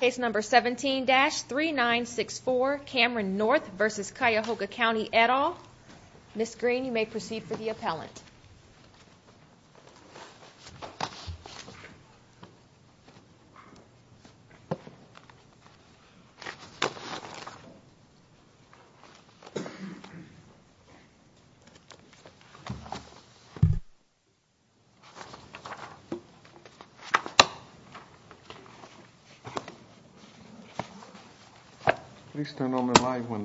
Case number 17-3964, Cameron North v. Cuyahoga County, et al. Ms. Green, you may proceed for the appellant. Good morning, and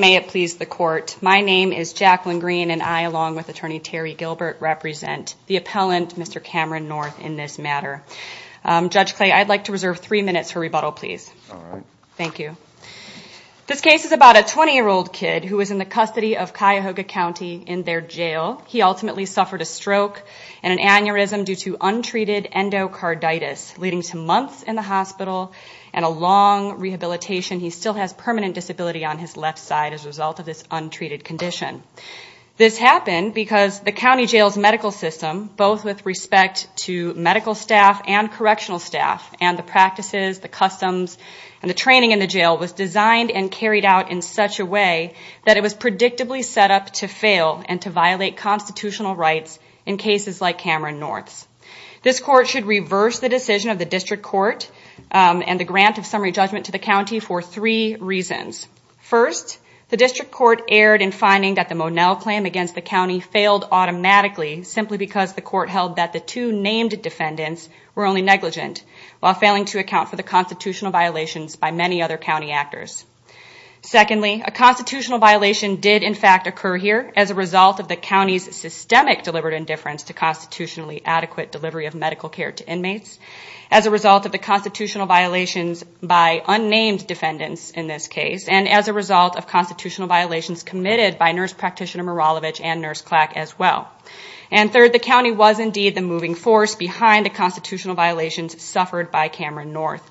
may it please the Court, my name is Jacqueline Green, and I, along with Attorney Terry Gilbert, represent the appellant, Mr. Cameron North, in this matter. Judge Clay, I'd like to reserve three minutes for rebuttal, please. All right. Thank you. This case is about a 20-year-old kid who was in the custody of Cuyahoga County in their jail. He ultimately suffered a stroke and an aneurysm due to untreated endocarditis, leading to months in the hospital and a long rehabilitation. He still has permanent disability on his left side as a result of this untreated condition. This happened because the county jail's medical system, both with respect to medical staff and correctional staff, and the practices, the customs, and the training in the jail, was designed and carried out in such a way that it was predictably set up to fail and to violate constitutional rights in cases like Cameron North's. This Court should reverse the decision of the District Court and the grant of summary judgment to the county for three reasons. First, the District Court erred in finding that the Monell claim against the county failed automatically simply because the court held that the two named defendants were only negligent, while failing to account for the constitutional violations by many other county actors. Secondly, a constitutional violation did, in fact, occur here as a result of the county's systemic deliberate indifference to constitutionally adequate delivery of medical care to inmates, as a result of the constitutional violations by unnamed defendants in this case, and as a result of constitutional violations committed by Nurse Practitioner Miralovich and Nurse Clack as well. And third, the county was indeed the moving force behind the constitutional violations suffered by Cameron North.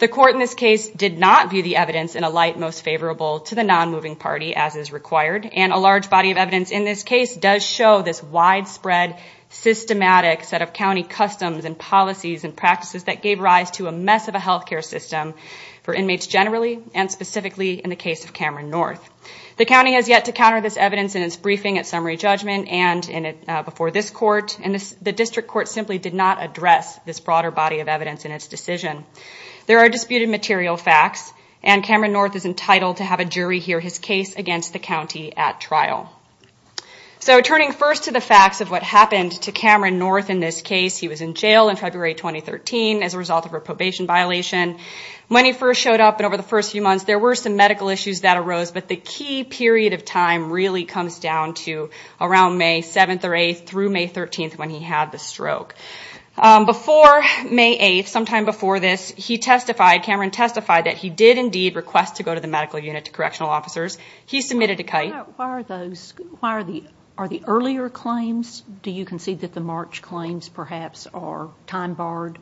The court in this case did not view the evidence in a light most favorable to the non-moving party as is required, and a large body of evidence in this case does show this widespread, systematic set of county customs and policies and practices that gave rise to a mess of a health care system for inmates generally, and specifically in the case of Cameron North. The county has yet to counter this evidence in its briefing at summary judgment and before this court, and the District Court simply did not address this broader body of evidence in its decision. There are disputed material facts, and Cameron North is entitled to have a jury hear his case against the county at trial. So turning first to the facts of what happened to Cameron North in this case, he was in jail in February 2013 as a result of a probation violation. When he first showed up and over the first few months, there were some medical issues that arose, but the key period of time really comes down to around May 7th or 8th through May 13th when he had the stroke. Before May 8th, sometime before this, he testified, Cameron testified, that he did indeed request to go to the medical unit to correctional officers. He submitted a kite. Why are those, are the earlier claims, do you concede that the March claims perhaps are time barred?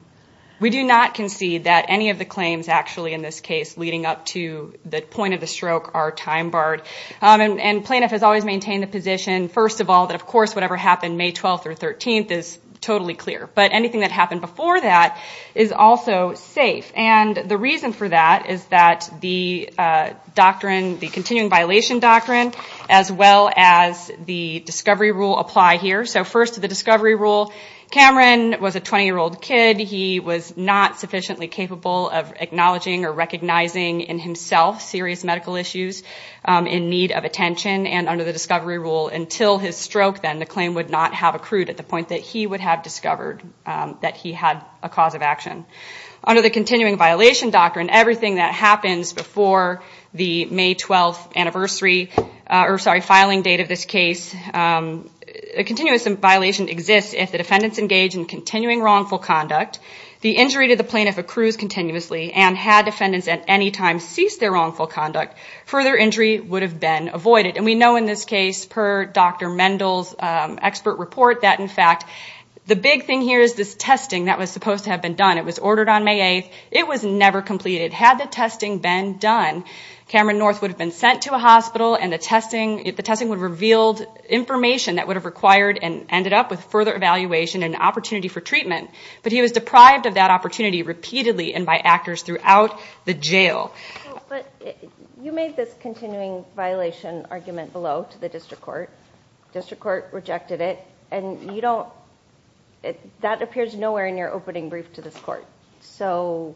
We do not concede that any of the claims actually in this case leading up to the point of the stroke are time barred. And plaintiff has always maintained the position, first of all, that of course whatever happened May 12th or 13th is totally clear. But anything that happened before that is also safe. And the reason for that is that the doctrine, the continuing violation doctrine, as well as the discovery rule apply here. So first the discovery rule, Cameron was a 20-year-old kid. He was not sufficiently capable of acknowledging or recognizing in himself serious medical issues in need of attention. And under the discovery rule, until his stroke then, the claim would not have accrued at the point that he would have discovered that he had a cause of action. Under the continuing violation doctrine, everything that happens before the May 12th filing date of this case, a continuous violation exists if the defendants engage in continuing wrongful conduct, the injury to the plaintiff accrues continuously, and had defendants at any time ceased their wrongful conduct, further injury would have been avoided. And we know in this case, per Dr. Mendel's expert report, that in fact the big thing here is this testing that was supposed to have been done. It was ordered on May 8th. It was never completed. Had the testing been done, Cameron North would have been sent to a hospital and the testing would have revealed information that would have required and ended up with further evaluation and opportunity for treatment. But he was deprived of that opportunity repeatedly and by actors throughout the jail. But you made this continuing violation argument below to the district court. The district court rejected it. And that appears nowhere in your opening brief to this court. So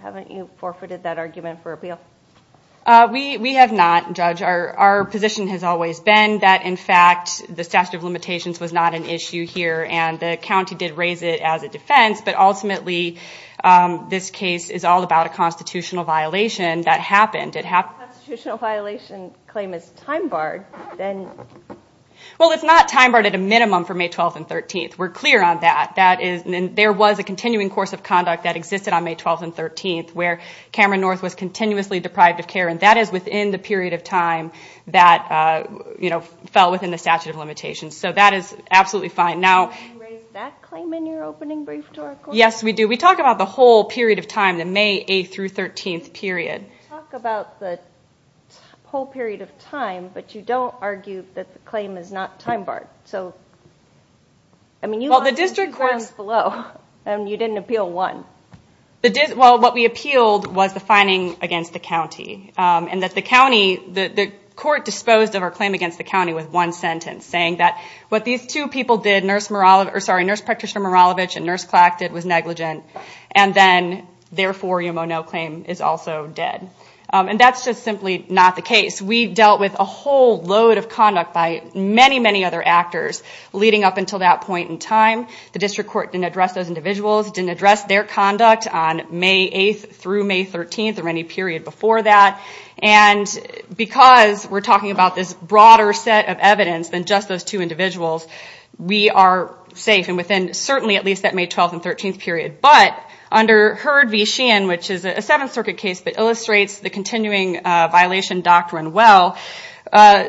haven't you forfeited that argument for appeal? We have not, Judge. Our position has always been that in fact the statute of limitations was not an issue here, and the county did raise it as a defense, but ultimately this case is all about a constitutional violation that happened. If a constitutional violation claim is time barred, then? Well, it's not time barred at a minimum for May 12th and 13th. We're clear on that. There was a continuing course of conduct that existed on May 12th and 13th where Cameron North was continuously deprived of care, and that is within the period of time that fell within the statute of limitations. So that is absolutely fine. Did you raise that claim in your opening brief to our court? Yes, we do. We talk about the whole period of time, the May 8th through 13th period. You talk about the whole period of time, but you don't argue that the claim is not time barred. Well, the district court's below, and you didn't appeal one. Well, what we appealed was the fining against the county, and that the court disposed of our claim against the county with one sentence, saying that what these two people did, Nurse Practitioner Maralovich and Nurse Clack, did was negligent, and then therefore your Monod claim is also dead. And that's just simply not the case. We dealt with a whole load of conduct by many, many other actors leading up until that point in time. The district court didn't address those individuals, didn't address their conduct on May 8th through May 13th or any period before that. And because we're talking about this broader set of evidence than just those two individuals, we are safe and within certainly at least that May 12th and 13th period. But under Hurd v. Sheehan, which is a Seventh Circuit case that illustrates the continuing violation doctrine well,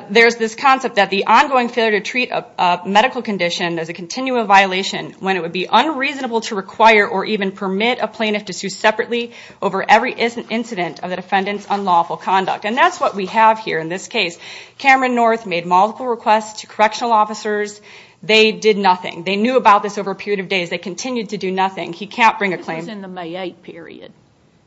there's this concept that the ongoing failure to treat a medical condition as a continual violation when it would be unreasonable to require or even permit a plaintiff to sue separately over every incident of the defendant's unlawful conduct. And that's what we have here in this case. Cameron North made multiple requests to correctional officers. They did nothing. They knew about this over a period of days. They continued to do nothing. He can't bring a claim. This is in the May 8th period.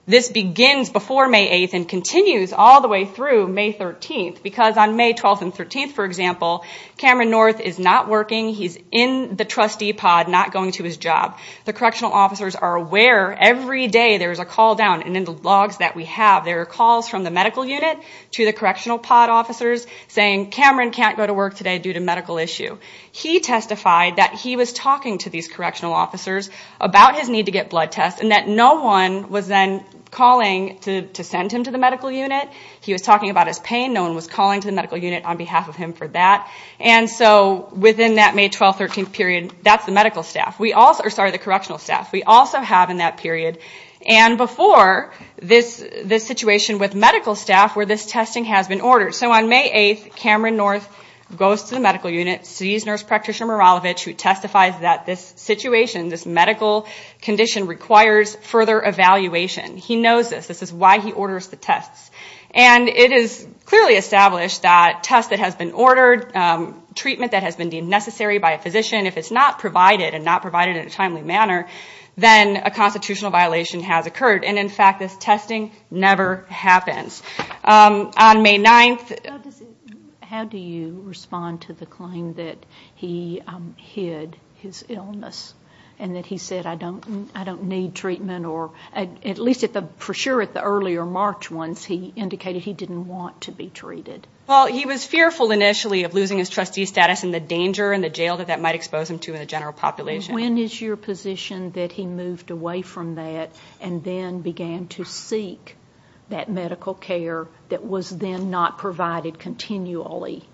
This begins before May 8th and continues all the way through May 13th because on May 12th and 13th, for example, Cameron North is not working. He's in the trustee pod, not going to his job. The correctional officers are aware every day there is a call down. And in the logs that we have, there are calls from the medical unit to the correctional pod officers saying, Cameron can't go to work today due to medical issue. He testified that he was talking to these correctional officers about his need to get blood tests and that no one was then calling to send him to the medical unit. He was talking about his pain. No one was calling to the medical unit on behalf of him for that. And so within that May 12th, 13th period, that's the medical staff. Sorry, the correctional staff. We also have in that period and before this situation with medical staff where this testing has been ordered. So on May 8th, Cameron North goes to the medical unit, sees Nurse Practitioner Miralovic who testifies that this situation, this medical condition requires further evaluation. He knows this. This is why he orders the tests. And it is clearly established that tests that has been ordered, treatment that has been deemed necessary by a physician, if it's not provided and not provided in a timely manner, then a constitutional violation has occurred. And in fact, this testing never happens. On May 9th. How do you respond to the claim that he hid his illness and that he said, I don't need treatment, or at least for sure at the earlier March ones, he indicated he didn't want to be treated. Well, he was fearful initially of losing his trustee status and the danger and the jail that that might expose him to in the general population. When is your position that he moved away from that and then began to seek that medical care that was then not provided continually?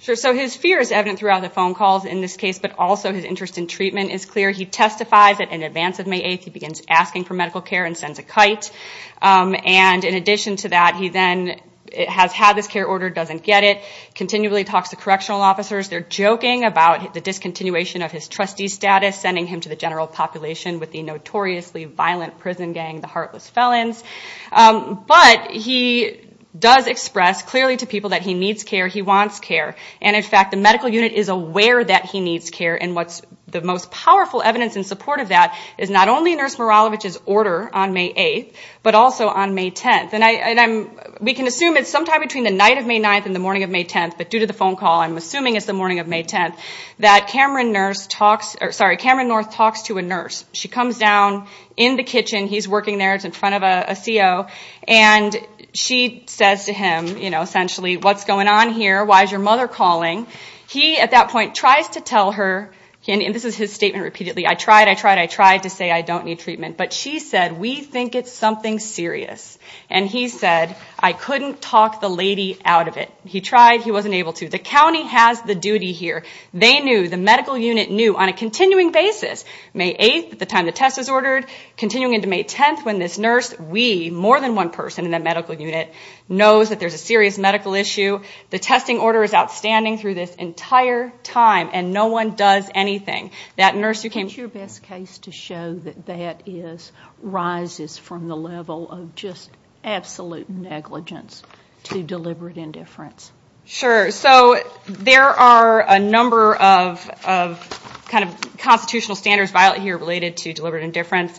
Sure. So his fear is evident throughout the phone calls in this case, but also his interest in treatment is clear. He testifies that in advance of May 8th, he begins asking for medical care and sends a kite. And in addition to that, he then has had this care ordered, doesn't get it, continually talks to correctional officers. They're joking about the discontinuation of his trustee status, sending him to the general population with the notoriously violent prison gang, the Heartless Felons. But he does express clearly to people that he needs care, he wants care. And in fact, the medical unit is aware that he needs care, and what's the most powerful evidence in support of that is not only Nurse Miralovich's order on May 8th, but also on May 10th. And we can assume it's sometime between the night of May 9th and the morning of May 10th, but due to the phone call, I'm assuming it's the morning of May 10th, that Cameron North talks to a nurse. She comes down in the kitchen, he's working there, it's in front of a CO, and she says to him, you know, essentially, what's going on here, why is your mother calling? He, at that point, tries to tell her, and this is his statement repeatedly, I tried, I tried, I tried to say I don't need treatment, but she said, we think it's something serious. And he said, I couldn't talk the lady out of it. He tried, he wasn't able to. The county has the duty here. They knew, the medical unit knew, on a continuing basis, May 8th at the time the test was ordered, continuing into May 10th when this nurse, we, more than one person in that medical unit, knows that there's a serious medical issue. The testing order is outstanding through this entire time, and no one does anything. That nurse who came... What's your best case to show that that is, rises from the level of just absolute negligence to deliberate indifference? Sure. So, there are a number of kind of constitutional standards violated here related to deliberate indifference.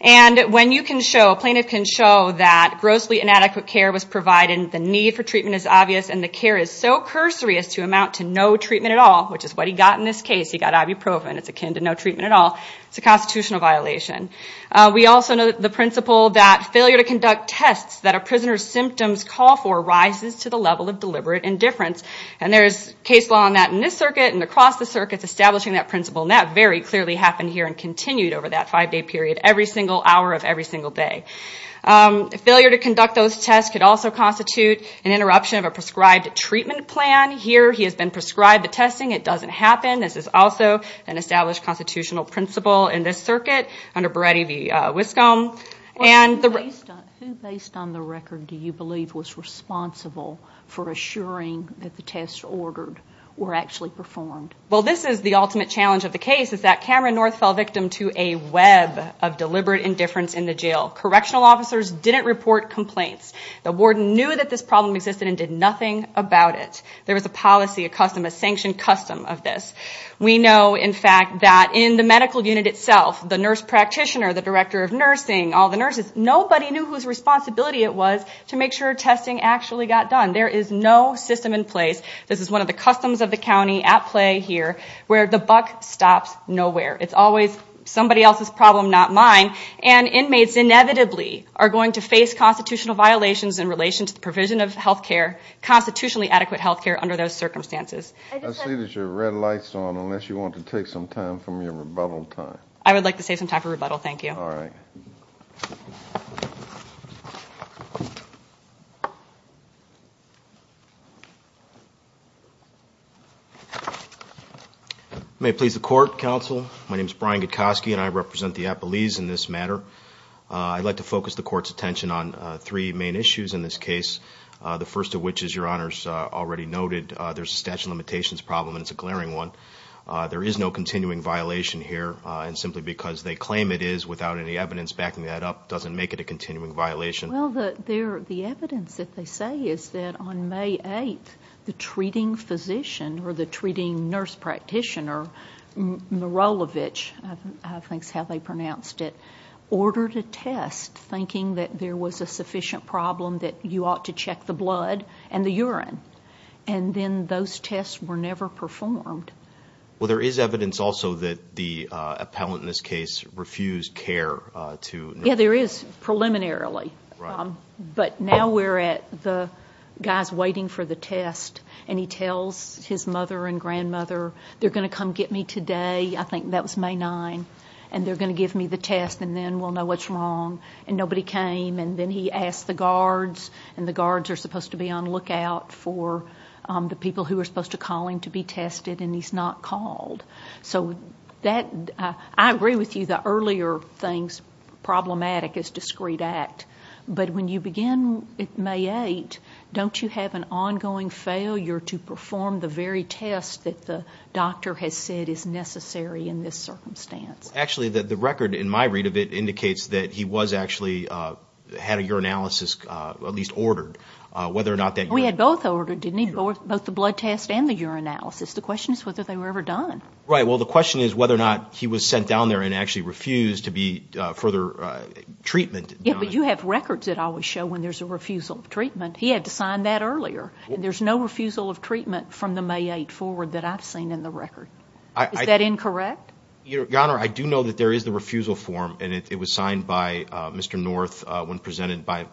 And when you can show, a plaintiff can show that grossly inadequate care was provided, the need for treatment is obvious, and the care is so cursory as to amount to no treatment at all, which is what he got in this case. He got ibuprofen. It's akin to no treatment at all. It's a constitutional violation. We also know the principle that failure to conduct tests that a prisoner's symptoms call for rises to the level of deliberate indifference. And there's case law on that in this circuit and across the circuits establishing that principle, and that very clearly happened here and continued over that five-day period every single hour of every single day. Failure to conduct those tests could also constitute an interruption of a prescribed treatment plan. Here, he has been prescribed the testing. It doesn't happen. This is also an established constitutional principle in this circuit under Beretti v. Wiscombe. Who, based on the record, do you believe was responsible for assuring that the tests ordered were actually performed? Well, this is the ultimate challenge of the case, is that Cameron North fell victim to a web of deliberate indifference in the jail. Correctional officers didn't report complaints. The warden knew that this problem existed and did nothing about it. There was a policy, a custom, a sanctioned custom of this. We know, in fact, that in the medical unit itself, the nurse practitioner, the director of nursing, all the nurses, nobody knew whose responsibility it was to make sure testing actually got done. There is no system in place. This is one of the customs of the county at play here, where the buck stops nowhere. It's always somebody else's problem, not mine, and inmates inevitably are going to face constitutional violations in relation to the provision of health care, constitutionally adequate health care under those circumstances. I see that your red light is on unless you want to take some time from your rebuttal time. I would like to save some time for rebuttal, thank you. All right. May it please the Court, Counsel. My name is Brian Gutkoski, and I represent the appellees in this matter. I'd like to focus the Court's attention on three main issues in this case, the first of which, as Your Honors already noted, there's a statute of limitations problem, and it's a glaring one. There is no continuing violation here, and simply because they claim it is without any evidence backing that up doesn't make it a continuing violation. Well, the evidence that they say is that on May 8th, the treating physician or the treating nurse practitioner, Mirolovich, I think is how they pronounced it, ordered a test thinking that there was a sufficient problem that you ought to check the blood and the urine. And then those tests were never performed. Well, there is evidence also that the appellant in this case refused care to nurse. Yeah, there is, preliminarily. Right. But now we're at the guy's waiting for the test, and he tells his mother and grandmother, they're going to come get me today, I think that was May 9th, and they're going to give me the test, and then we'll know what's wrong. And nobody came, and then he asked the guards, and the guards are supposed to be on lookout for the people who are supposed to call him to be tested, and he's not called. So I agree with you, the earlier things problematic is discreet act. But when you begin May 8th, don't you have an ongoing failure to perform the very test that the doctor has said is necessary in this circumstance? Actually, the record in my read of it indicates that he was actually, had a urinalysis at least ordered. We had both ordered, didn't he? Both the blood test and the urinalysis. The question is whether they were ever done. Right. Well, the question is whether or not he was sent down there and actually refused to be further treatment. Yeah, but you have records that always show when there's a refusal of treatment. He had to sign that earlier. There's no refusal of treatment from the May 8th forward that I've seen in the record. Is that incorrect? Your Honor, I do know that there is the refusal form, and it was signed by Mr. North when presented by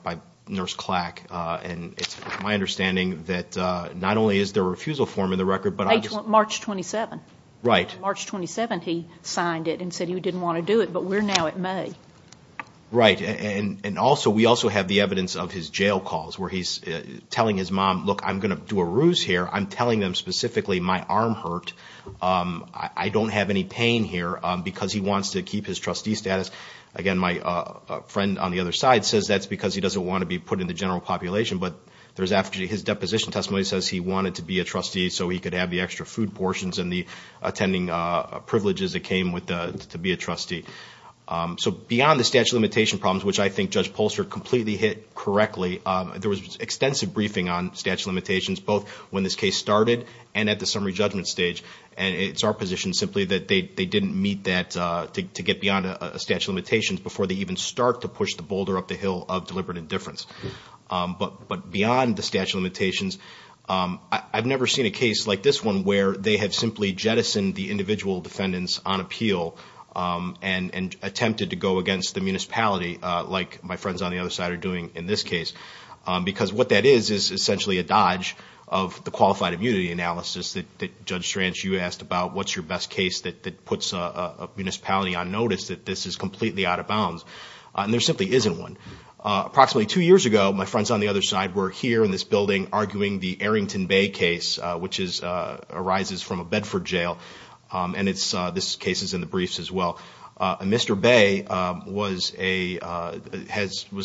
Nurse Clack. And it's my understanding that not only is there a refusal form in the record, but I just ---- March 27th. Right. March 27th he signed it and said he didn't want to do it, but we're now at May. Right. And also, we also have the evidence of his jail calls where he's telling his mom, look, I'm going to do a ruse here. I'm telling them specifically my arm hurt. I don't have any pain here because he wants to keep his trustee status. Again, my friend on the other side says that's because he doesn't want to be put in the general population, but there's after his deposition testimony says he wanted to be a trustee so he could have the extra food portions and the attending privileges that came with being a trustee. So beyond the statute of limitation problems, which I think Judge Polster completely hit correctly, there was extensive briefing on statute of limitations both when this case started and at the summary judgment stage. And it's our position simply that they didn't meet that to get beyond a statute of limitations before they even start to push the boulder up the hill of deliberate indifference. But beyond the statute of limitations, I've never seen a case like this one where they have simply jettisoned the individual defendants on appeal and attempted to go against the municipality like my friends on the other side are doing in this case. Because what that is is essentially a dodge of the qualified immunity analysis that Judge Stranch, you asked about what's your best case that puts a municipality on notice that this is completely out of bounds. And there simply isn't one. Approximately two years ago, my friends on the other side were here in this building arguing the Arrington Bay case, which arises from a Bedford jail. And this case is in the briefs as well. And Mr. Bay was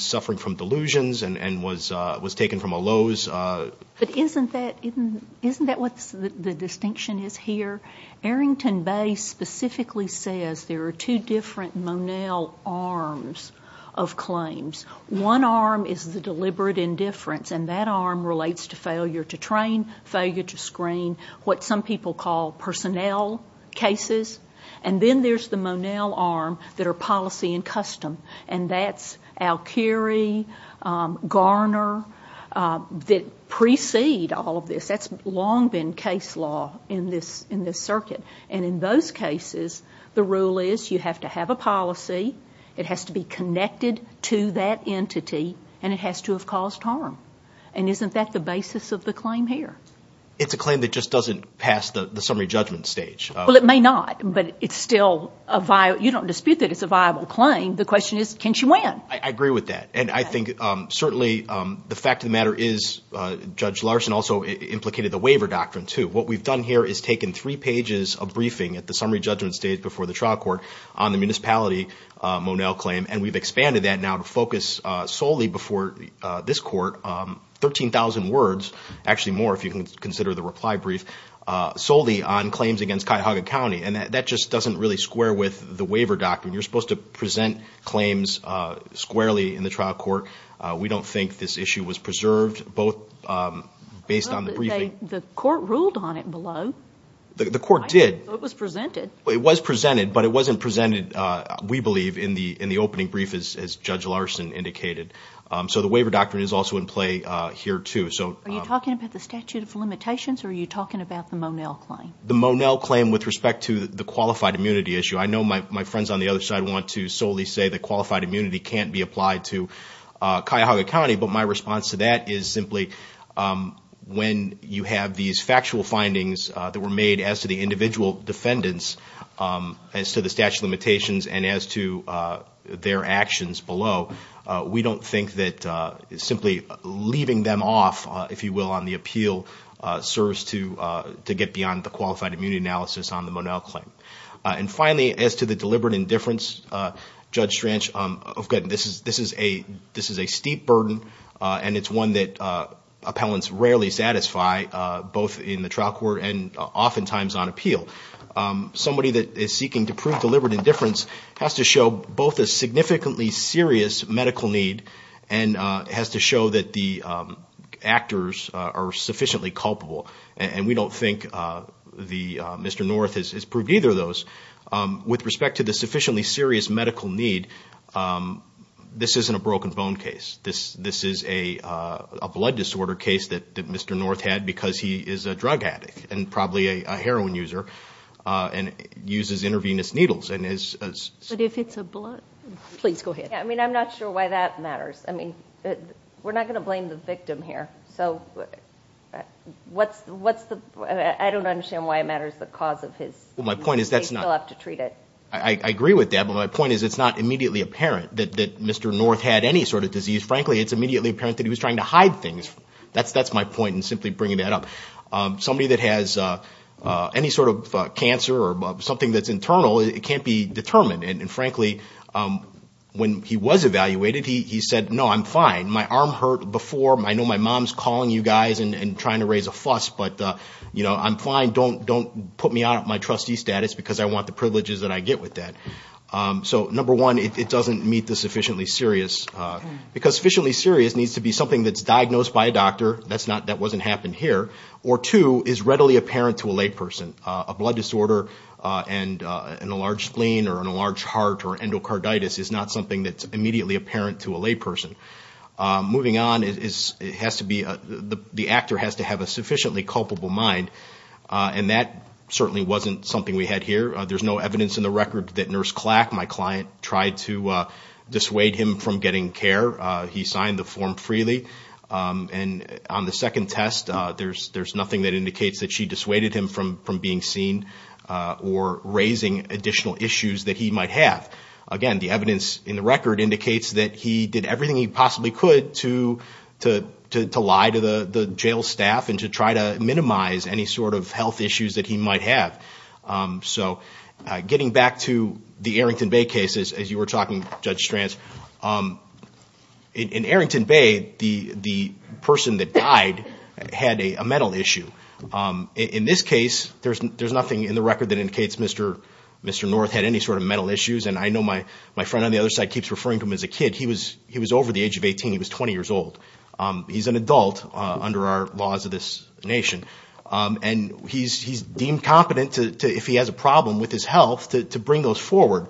suffering from delusions and was taken from a Lowe's. But isn't that what the distinction is here? Arrington Bay specifically says there are two different Monell arms of claims. One arm is the deliberate indifference, and that arm relates to failure to train, failure to screen, what some people call personnel cases. And then there's the Monell arm that are policy and custom, and that's Alkiri, Garner, that precede all of this. That's long been case law in this circuit. And in those cases, the rule is you have to have a policy. It has to be connected to that entity. And it has to have caused harm. And isn't that the basis of the claim here? It's a claim that just doesn't pass the summary judgment stage. Well, it may not, but it's still a viable. You don't dispute that it's a viable claim. The question is, can she win? I agree with that. And I think certainly the fact of the matter is Judge Larson also implicated the waiver doctrine, too. What we've done here is taken three pages of briefing at the summary judgment stage before the trial court on the municipality Monell claim, and we've expanded that now to focus solely before this court, 13,000 words, actually more if you can consider the reply brief, solely on claims against Cuyahoga County. And that just doesn't really square with the waiver doctrine. You're supposed to present claims squarely in the trial court. We don't think this issue was preserved, both based on the briefing. The court ruled on it below. It was presented, but it wasn't presented, we believe, in the opening brief, as Judge Larson indicated. So the waiver doctrine is also in play here, too. Are you talking about the statute of limitations or are you talking about the Monell claim? The Monell claim with respect to the qualified immunity issue. I know my friends on the other side want to solely say that qualified immunity can't be applied to Cuyahoga County, but my response to that is simply when you have these factual findings that were made as to the individual defendants, as to the statute of limitations and as to their actions below, we don't think that simply leaving them off, if you will, on the appeal serves to get beyond the qualified immunity analysis on the Monell claim. And finally, as to the deliberate indifference, Judge Stranch, this is a steep burden, and it's one that appellants rarely satisfy, both in the trial court and oftentimes on appeal. Somebody that is seeking to prove deliberate indifference has to show both a significantly serious medical need and has to show that the actors are sufficiently culpable. And we don't think Mr. North has proved either of those. With respect to the sufficiently serious medical need, this isn't a broken bone case. This is a blood disorder case that Mr. North had because he is a drug addict and probably a heroin user and uses intravenous needles. But if it's a blood... Please go ahead. I mean, I'm not sure why that matters. I mean, we're not going to blame the victim here. I don't understand why it matters the cause of his... He can't be determined, and frankly, when he was evaluated, he said, no, I'm fine. My arm hurt before. I know my mom's calling you guys and trying to raise a fuss, but I'm fine. Don't put me out of my trustee status because I want the privileges that I get with that. So number one, it doesn't meet the sufficiently serious... Because sufficiently serious needs to be something that's diagnosed by a doctor. That wasn't happened here. Or two, is readily apparent to a layperson. A blood disorder and an enlarged spleen or an enlarged heart or endocarditis is not something that's immediately apparent to a layperson. Moving on, the actor has to have a sufficiently culpable mind, and that certainly wasn't something we had here. There's no evidence in the record that Nurse Clack, my client, tried to dissuade him from getting care. He signed the form freely. And on the second test, there's nothing that indicates that she dissuaded him from being seen or raising additional issues that he might have. Again, the evidence in the record indicates that he did everything he possibly could to lie to the jail staff and to try to minimize any sort of health issues that he might have. So getting back to the Arrington Bay case, as you were talking, Judge Stranz, in Arrington Bay, the person that died had a mental issue. In this case, there's nothing in the record that indicates Mr. North had any sort of mental issues. And I know my friend on the other side keeps referring to him as a kid. He was over the age of 18. He was 20 years old. He's an adult under our laws of this nation. And he's deemed competent, if he has a problem with his health, to bring those forward.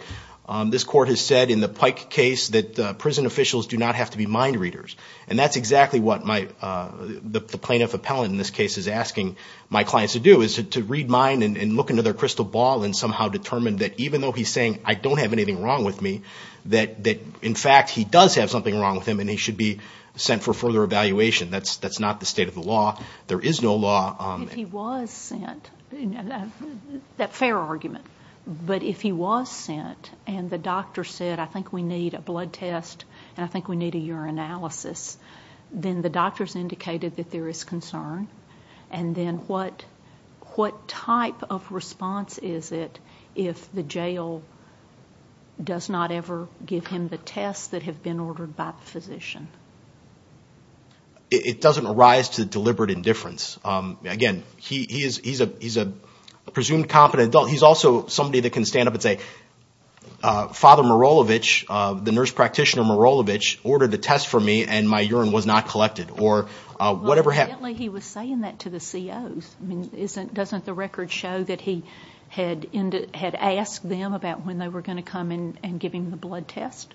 This court has said in the Pike case that prison officials do not have to be mind readers. And that's exactly what the plaintiff appellant in this case is asking my clients to do, is to read mind and look into their crystal ball and somehow determine that even though he's saying, I don't have anything wrong with me, that in fact he does have something wrong with him and he should be sent for further evaluation. That's not the state of the law. There is no law. If he was sent, fair argument, but if he was sent and the doctor said, I think we need a blood test and I think we need a urinalysis, then the doctors indicated that there is concern. And then what type of response is it if the jail does not ever give him the tests that have been ordered by the physician? It doesn't arise to deliberate indifference. Again, he's a presumed competent adult. He's also somebody that can stand up and say, Father Marolevich, the nurse practitioner Marolevich, ordered the test for me and my urine was not collected. Well, evidently he was saying that to the COs. Doesn't the record show that he had asked them about when they were going to come and give him the blood test?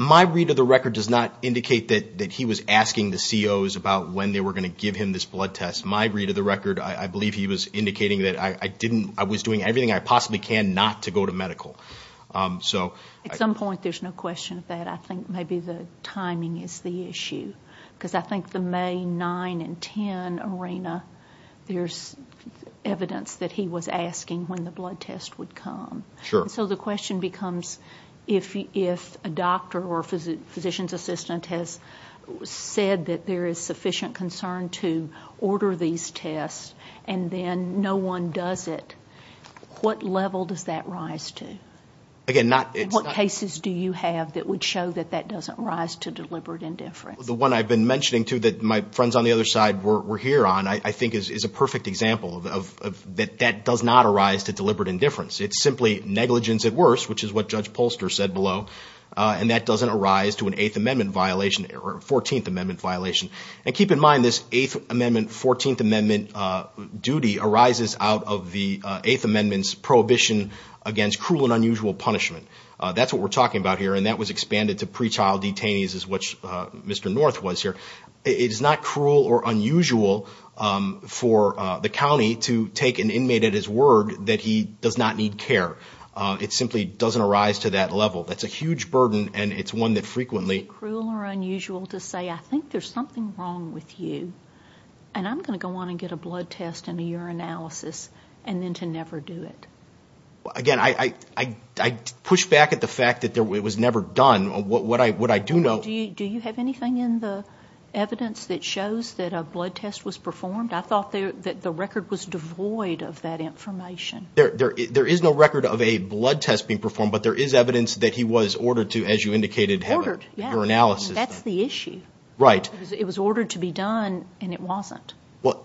My read of the record does not indicate that he was asking the COs about when they were going to give him this blood test. My read of the record, I believe he was indicating that I was doing everything I possibly can not to go to medical. At some point there's no question of that. I think maybe the timing is the issue. Because I think the May 9 and 10 arena, there's evidence that he was asking when the blood test would come. So the question becomes, if a doctor or physician's assistant has said that there is sufficient concern to order these tests and then no one does it, what level does that rise to? What cases do you have that would show that that doesn't rise to deliberate indifference? The one I've been mentioning, too, that my friends on the other side were here on, I think is a perfect example of that does not arise to deliberate indifference. It's simply negligence at worst, which is what Judge Polster said below. And that doesn't arise to an Eighth Amendment violation or Fourteenth Amendment violation. And keep in mind, this Eighth Amendment, Fourteenth Amendment duty arises out of the Eighth Amendment's prohibition against cruel and unusual punishment. That's what we're talking about here. And that was expanded to pre-child detainees, as which Mr. North was here. It is not cruel or unusual for the county to take an inmate at his word that he does not need care. It simply doesn't arise to that level. That's a huge burden. And it's one that frequently... And I'm going to go on and get a blood test and a urinalysis and then to never do it. Again, I push back at the fact that it was never done. What I do know... Do you have anything in the evidence that shows that a blood test was performed? I thought that the record was devoid of that information. There is no record of a blood test being performed, but there is evidence that he was ordered to, as you indicated...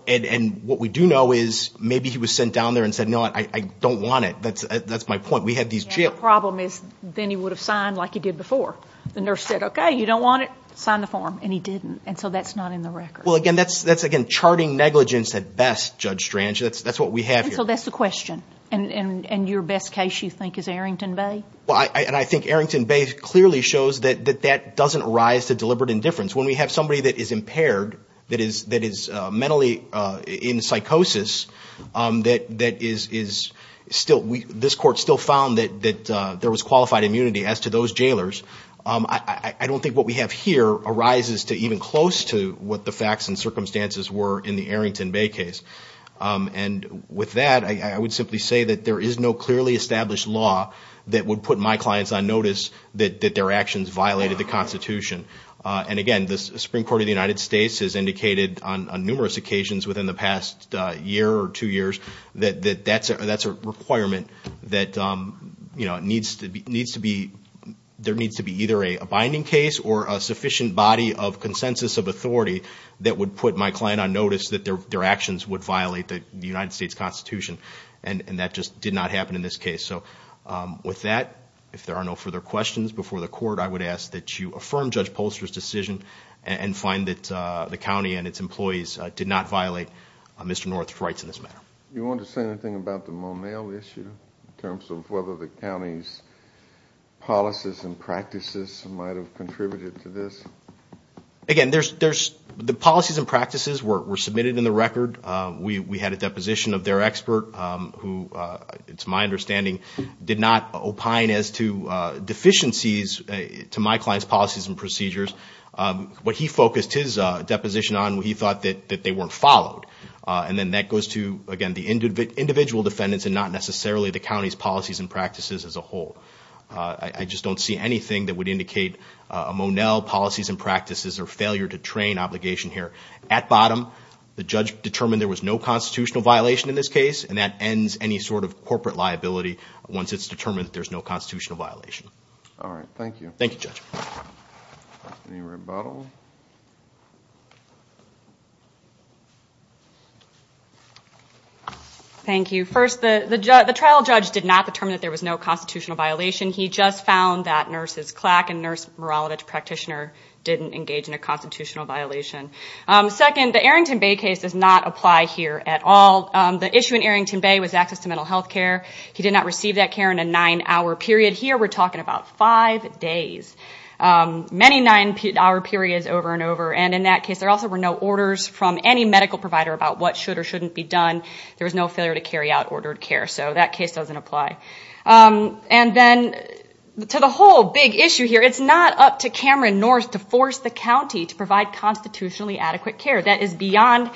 And what we do know is maybe he was sent down there and said, no, I don't want it. That's my point. The problem is then he would have signed like he did before. The nurse said, okay, you don't want it? Sign the form. And he didn't. And so that's not in the record. And so that's the question. And your best case, you think, is Arrington Bay? And I think Arrington Bay clearly shows that that doesn't arise to deliberate indifference. When we have somebody that is impaired, that is mentally in psychosis, this court still found that there was qualified immunity as to those jailers. I don't think what we have here arises to even close to what the facts and circumstances were in the Arrington Bay case. And with that, I would simply say that there is no clearly established law that would put my clients on notice that their actions violated the Constitution. And again, the Supreme Court of the United States has indicated on numerous occasions within the past year or two years that that's a requirement that there needs to be either a binding case or a sufficient body of consensus of authority that would put my client on notice that their actions would violate the United States Constitution. And that just did not happen in this case. So with that, if there are no further questions before the court, I would ask that you affirm Judge Polster's decision and find that the county and its employees did not violate Mr. North's rights in this matter. You want to say anything about the Monell issue in terms of whether the county's policies and practices might have contributed to this? Again, the policies and practices were submitted in the record. We had a deposition of their expert who, to my understanding, did not opine as to deficiencies to my client's policies and procedures. What he focused his deposition on, he thought that they weren't followed. And then that goes to, again, the individual defendants and not necessarily the county's policies and practices as a whole. I just don't see anything that would indicate a Monell policies and practices or failure to train obligation here. At bottom, the judge determined there was no constitutional violation in this case, and that ends any sort of corporate liability once it's determined that there's no constitutional violation. All right. Thank you. Thank you. First, the trial judge did not determine that there was no constitutional violation. Second, the Arrington Bay case does not apply here at all. The issue in Arrington Bay was access to mental health care. He did not receive that care in a nine-hour period. Here we're talking about five days. Many nine-hour periods over and over. And in that case, there also were no orders from any medical provider about what should or shouldn't be done. There was no failure to carry out ordered care. So that case doesn't apply. And then to the whole big issue here, it's not up to Cameron Norris to force the county to provide constitutionally adequate care. That is beyond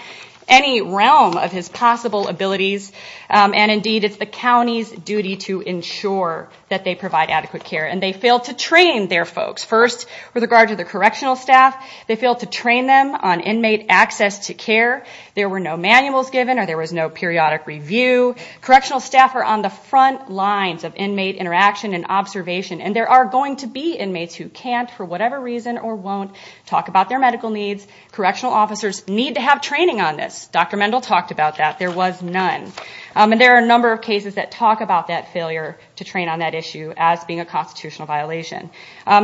any realm of his possible abilities. And indeed, it's the county's duty to ensure that they provide adequate care. And they failed to train their folks. First, with regard to the correctional staff, they failed to train them on inmate access to care. There were no manuals given or there was no periodic review. Correctional staff are on the front lines of inmate interaction and observation. And there are going to be inmates who can't for whatever reason or won't talk about their medical needs. Correctional officers need to have training on this. Dr. Mendel talked about that. There was none. And there are a number of cases that talk about that failure to train on that issue as being a constitutional violation.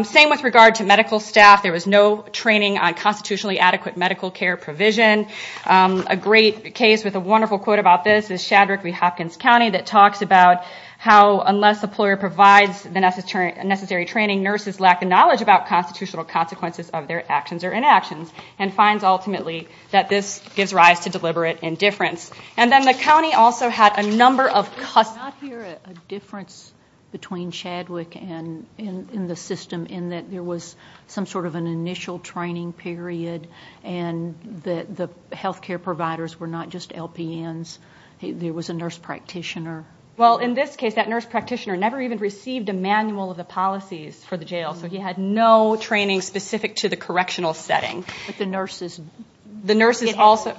Same with regard to medical staff. There was no training on constitutionally adequate medical care provision. A great case with a wonderful quote about this is Shadwick v. Hopkins County that talks about how unless a employer provides the necessary training, nurses lack the knowledge about constitutional consequences of their actions or inactions. And finds ultimately that this gives rise to deliberate indifference. And then the county also had a number of customers. I did not hear a difference between Shadwick and the system in that there was some sort of an initial training period and that the health care providers were not just LPNs. There was a nurse practitioner. Well, in this case that nurse practitioner never even received a manual of the policies for the jail. So he had no training specific to the correctional setting. The nurses also...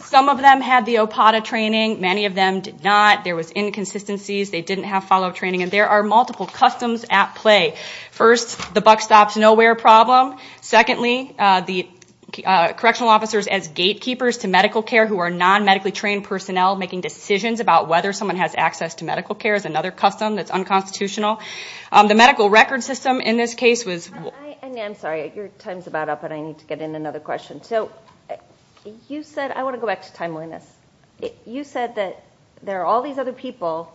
Some of them had the OPATA training. Many of them did not. There was inconsistencies. They didn't have follow-up training. And there are multiple customs at play. First, the buck stops nowhere problem. Secondly, the correctional officers as gatekeepers to medical care who are non-medically trained personnel making decisions about whether someone has access to medical care is another custom that's unconstitutional. The medical record system in this case was... I'm sorry, your time is about up and I need to get in another question. So you said... I want to go back to timeliness. You said that there are all these other people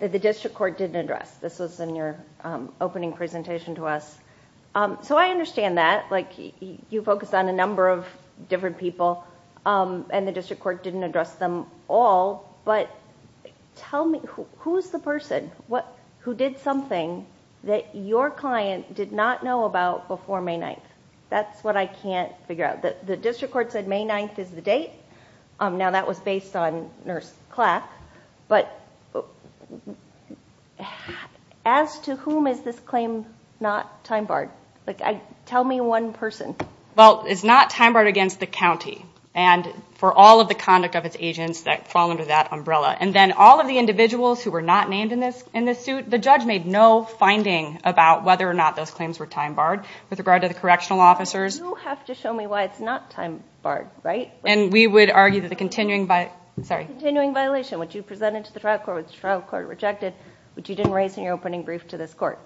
that the district court didn't address. This was in your opening presentation to us. So I understand that. You focused on a number of different people and the district court didn't address them all. But tell me, who is the person who did something that your client did not know about before May 9th? That's what I can't figure out. The district court said May 9th is the date. Now that was based on Nurse Clack. But as to whom is this claim not time-barred? Tell me one person. Well, it's not time-barred against the county and for all of the conduct of its agents that fall under that umbrella. And then all of the individuals who were not named in this suit, the judge made no finding about whether or not those claims were time-barred with regard to the correctional officers. You have to show me why it's not time-barred, right? And we would argue that the continuing violation, which you presented to the trial court, which the trial court rejected, which you didn't raise in your opening brief to this court.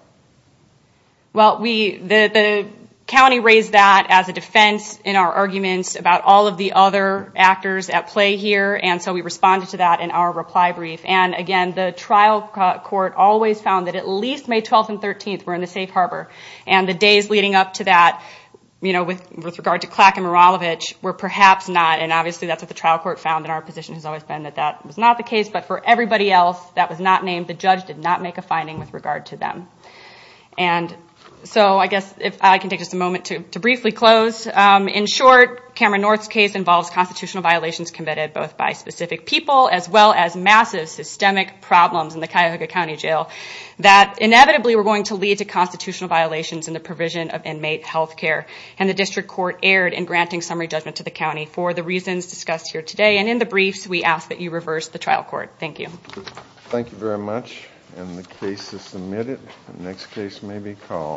Well, the county raised that as a defense in our arguments about all of the other actors at play here, and so we responded to that in our reply brief. And again, the trial court always found that at least May 12th and 13th were in the safe harbor. And the days leading up to that, with regard to Clack and Maralovich, were perhaps not. And obviously that's what the trial court found, and our position has always been that that was not the case. But for everybody else that was not named, the judge did not make a finding with regard to them. And so I guess if I can take just a moment to briefly close. In short, Cameron North's case involves constitutional violations committed both by specific people, as well as massive systemic problems in the Cuyahoga County Jail that inevitably were going to lead to constitutional violations in the provision of inmate health care. And the district court erred in granting summary judgment to the county for the reasons discussed here today. And in the briefs, we ask that you reverse the trial court. Thank you.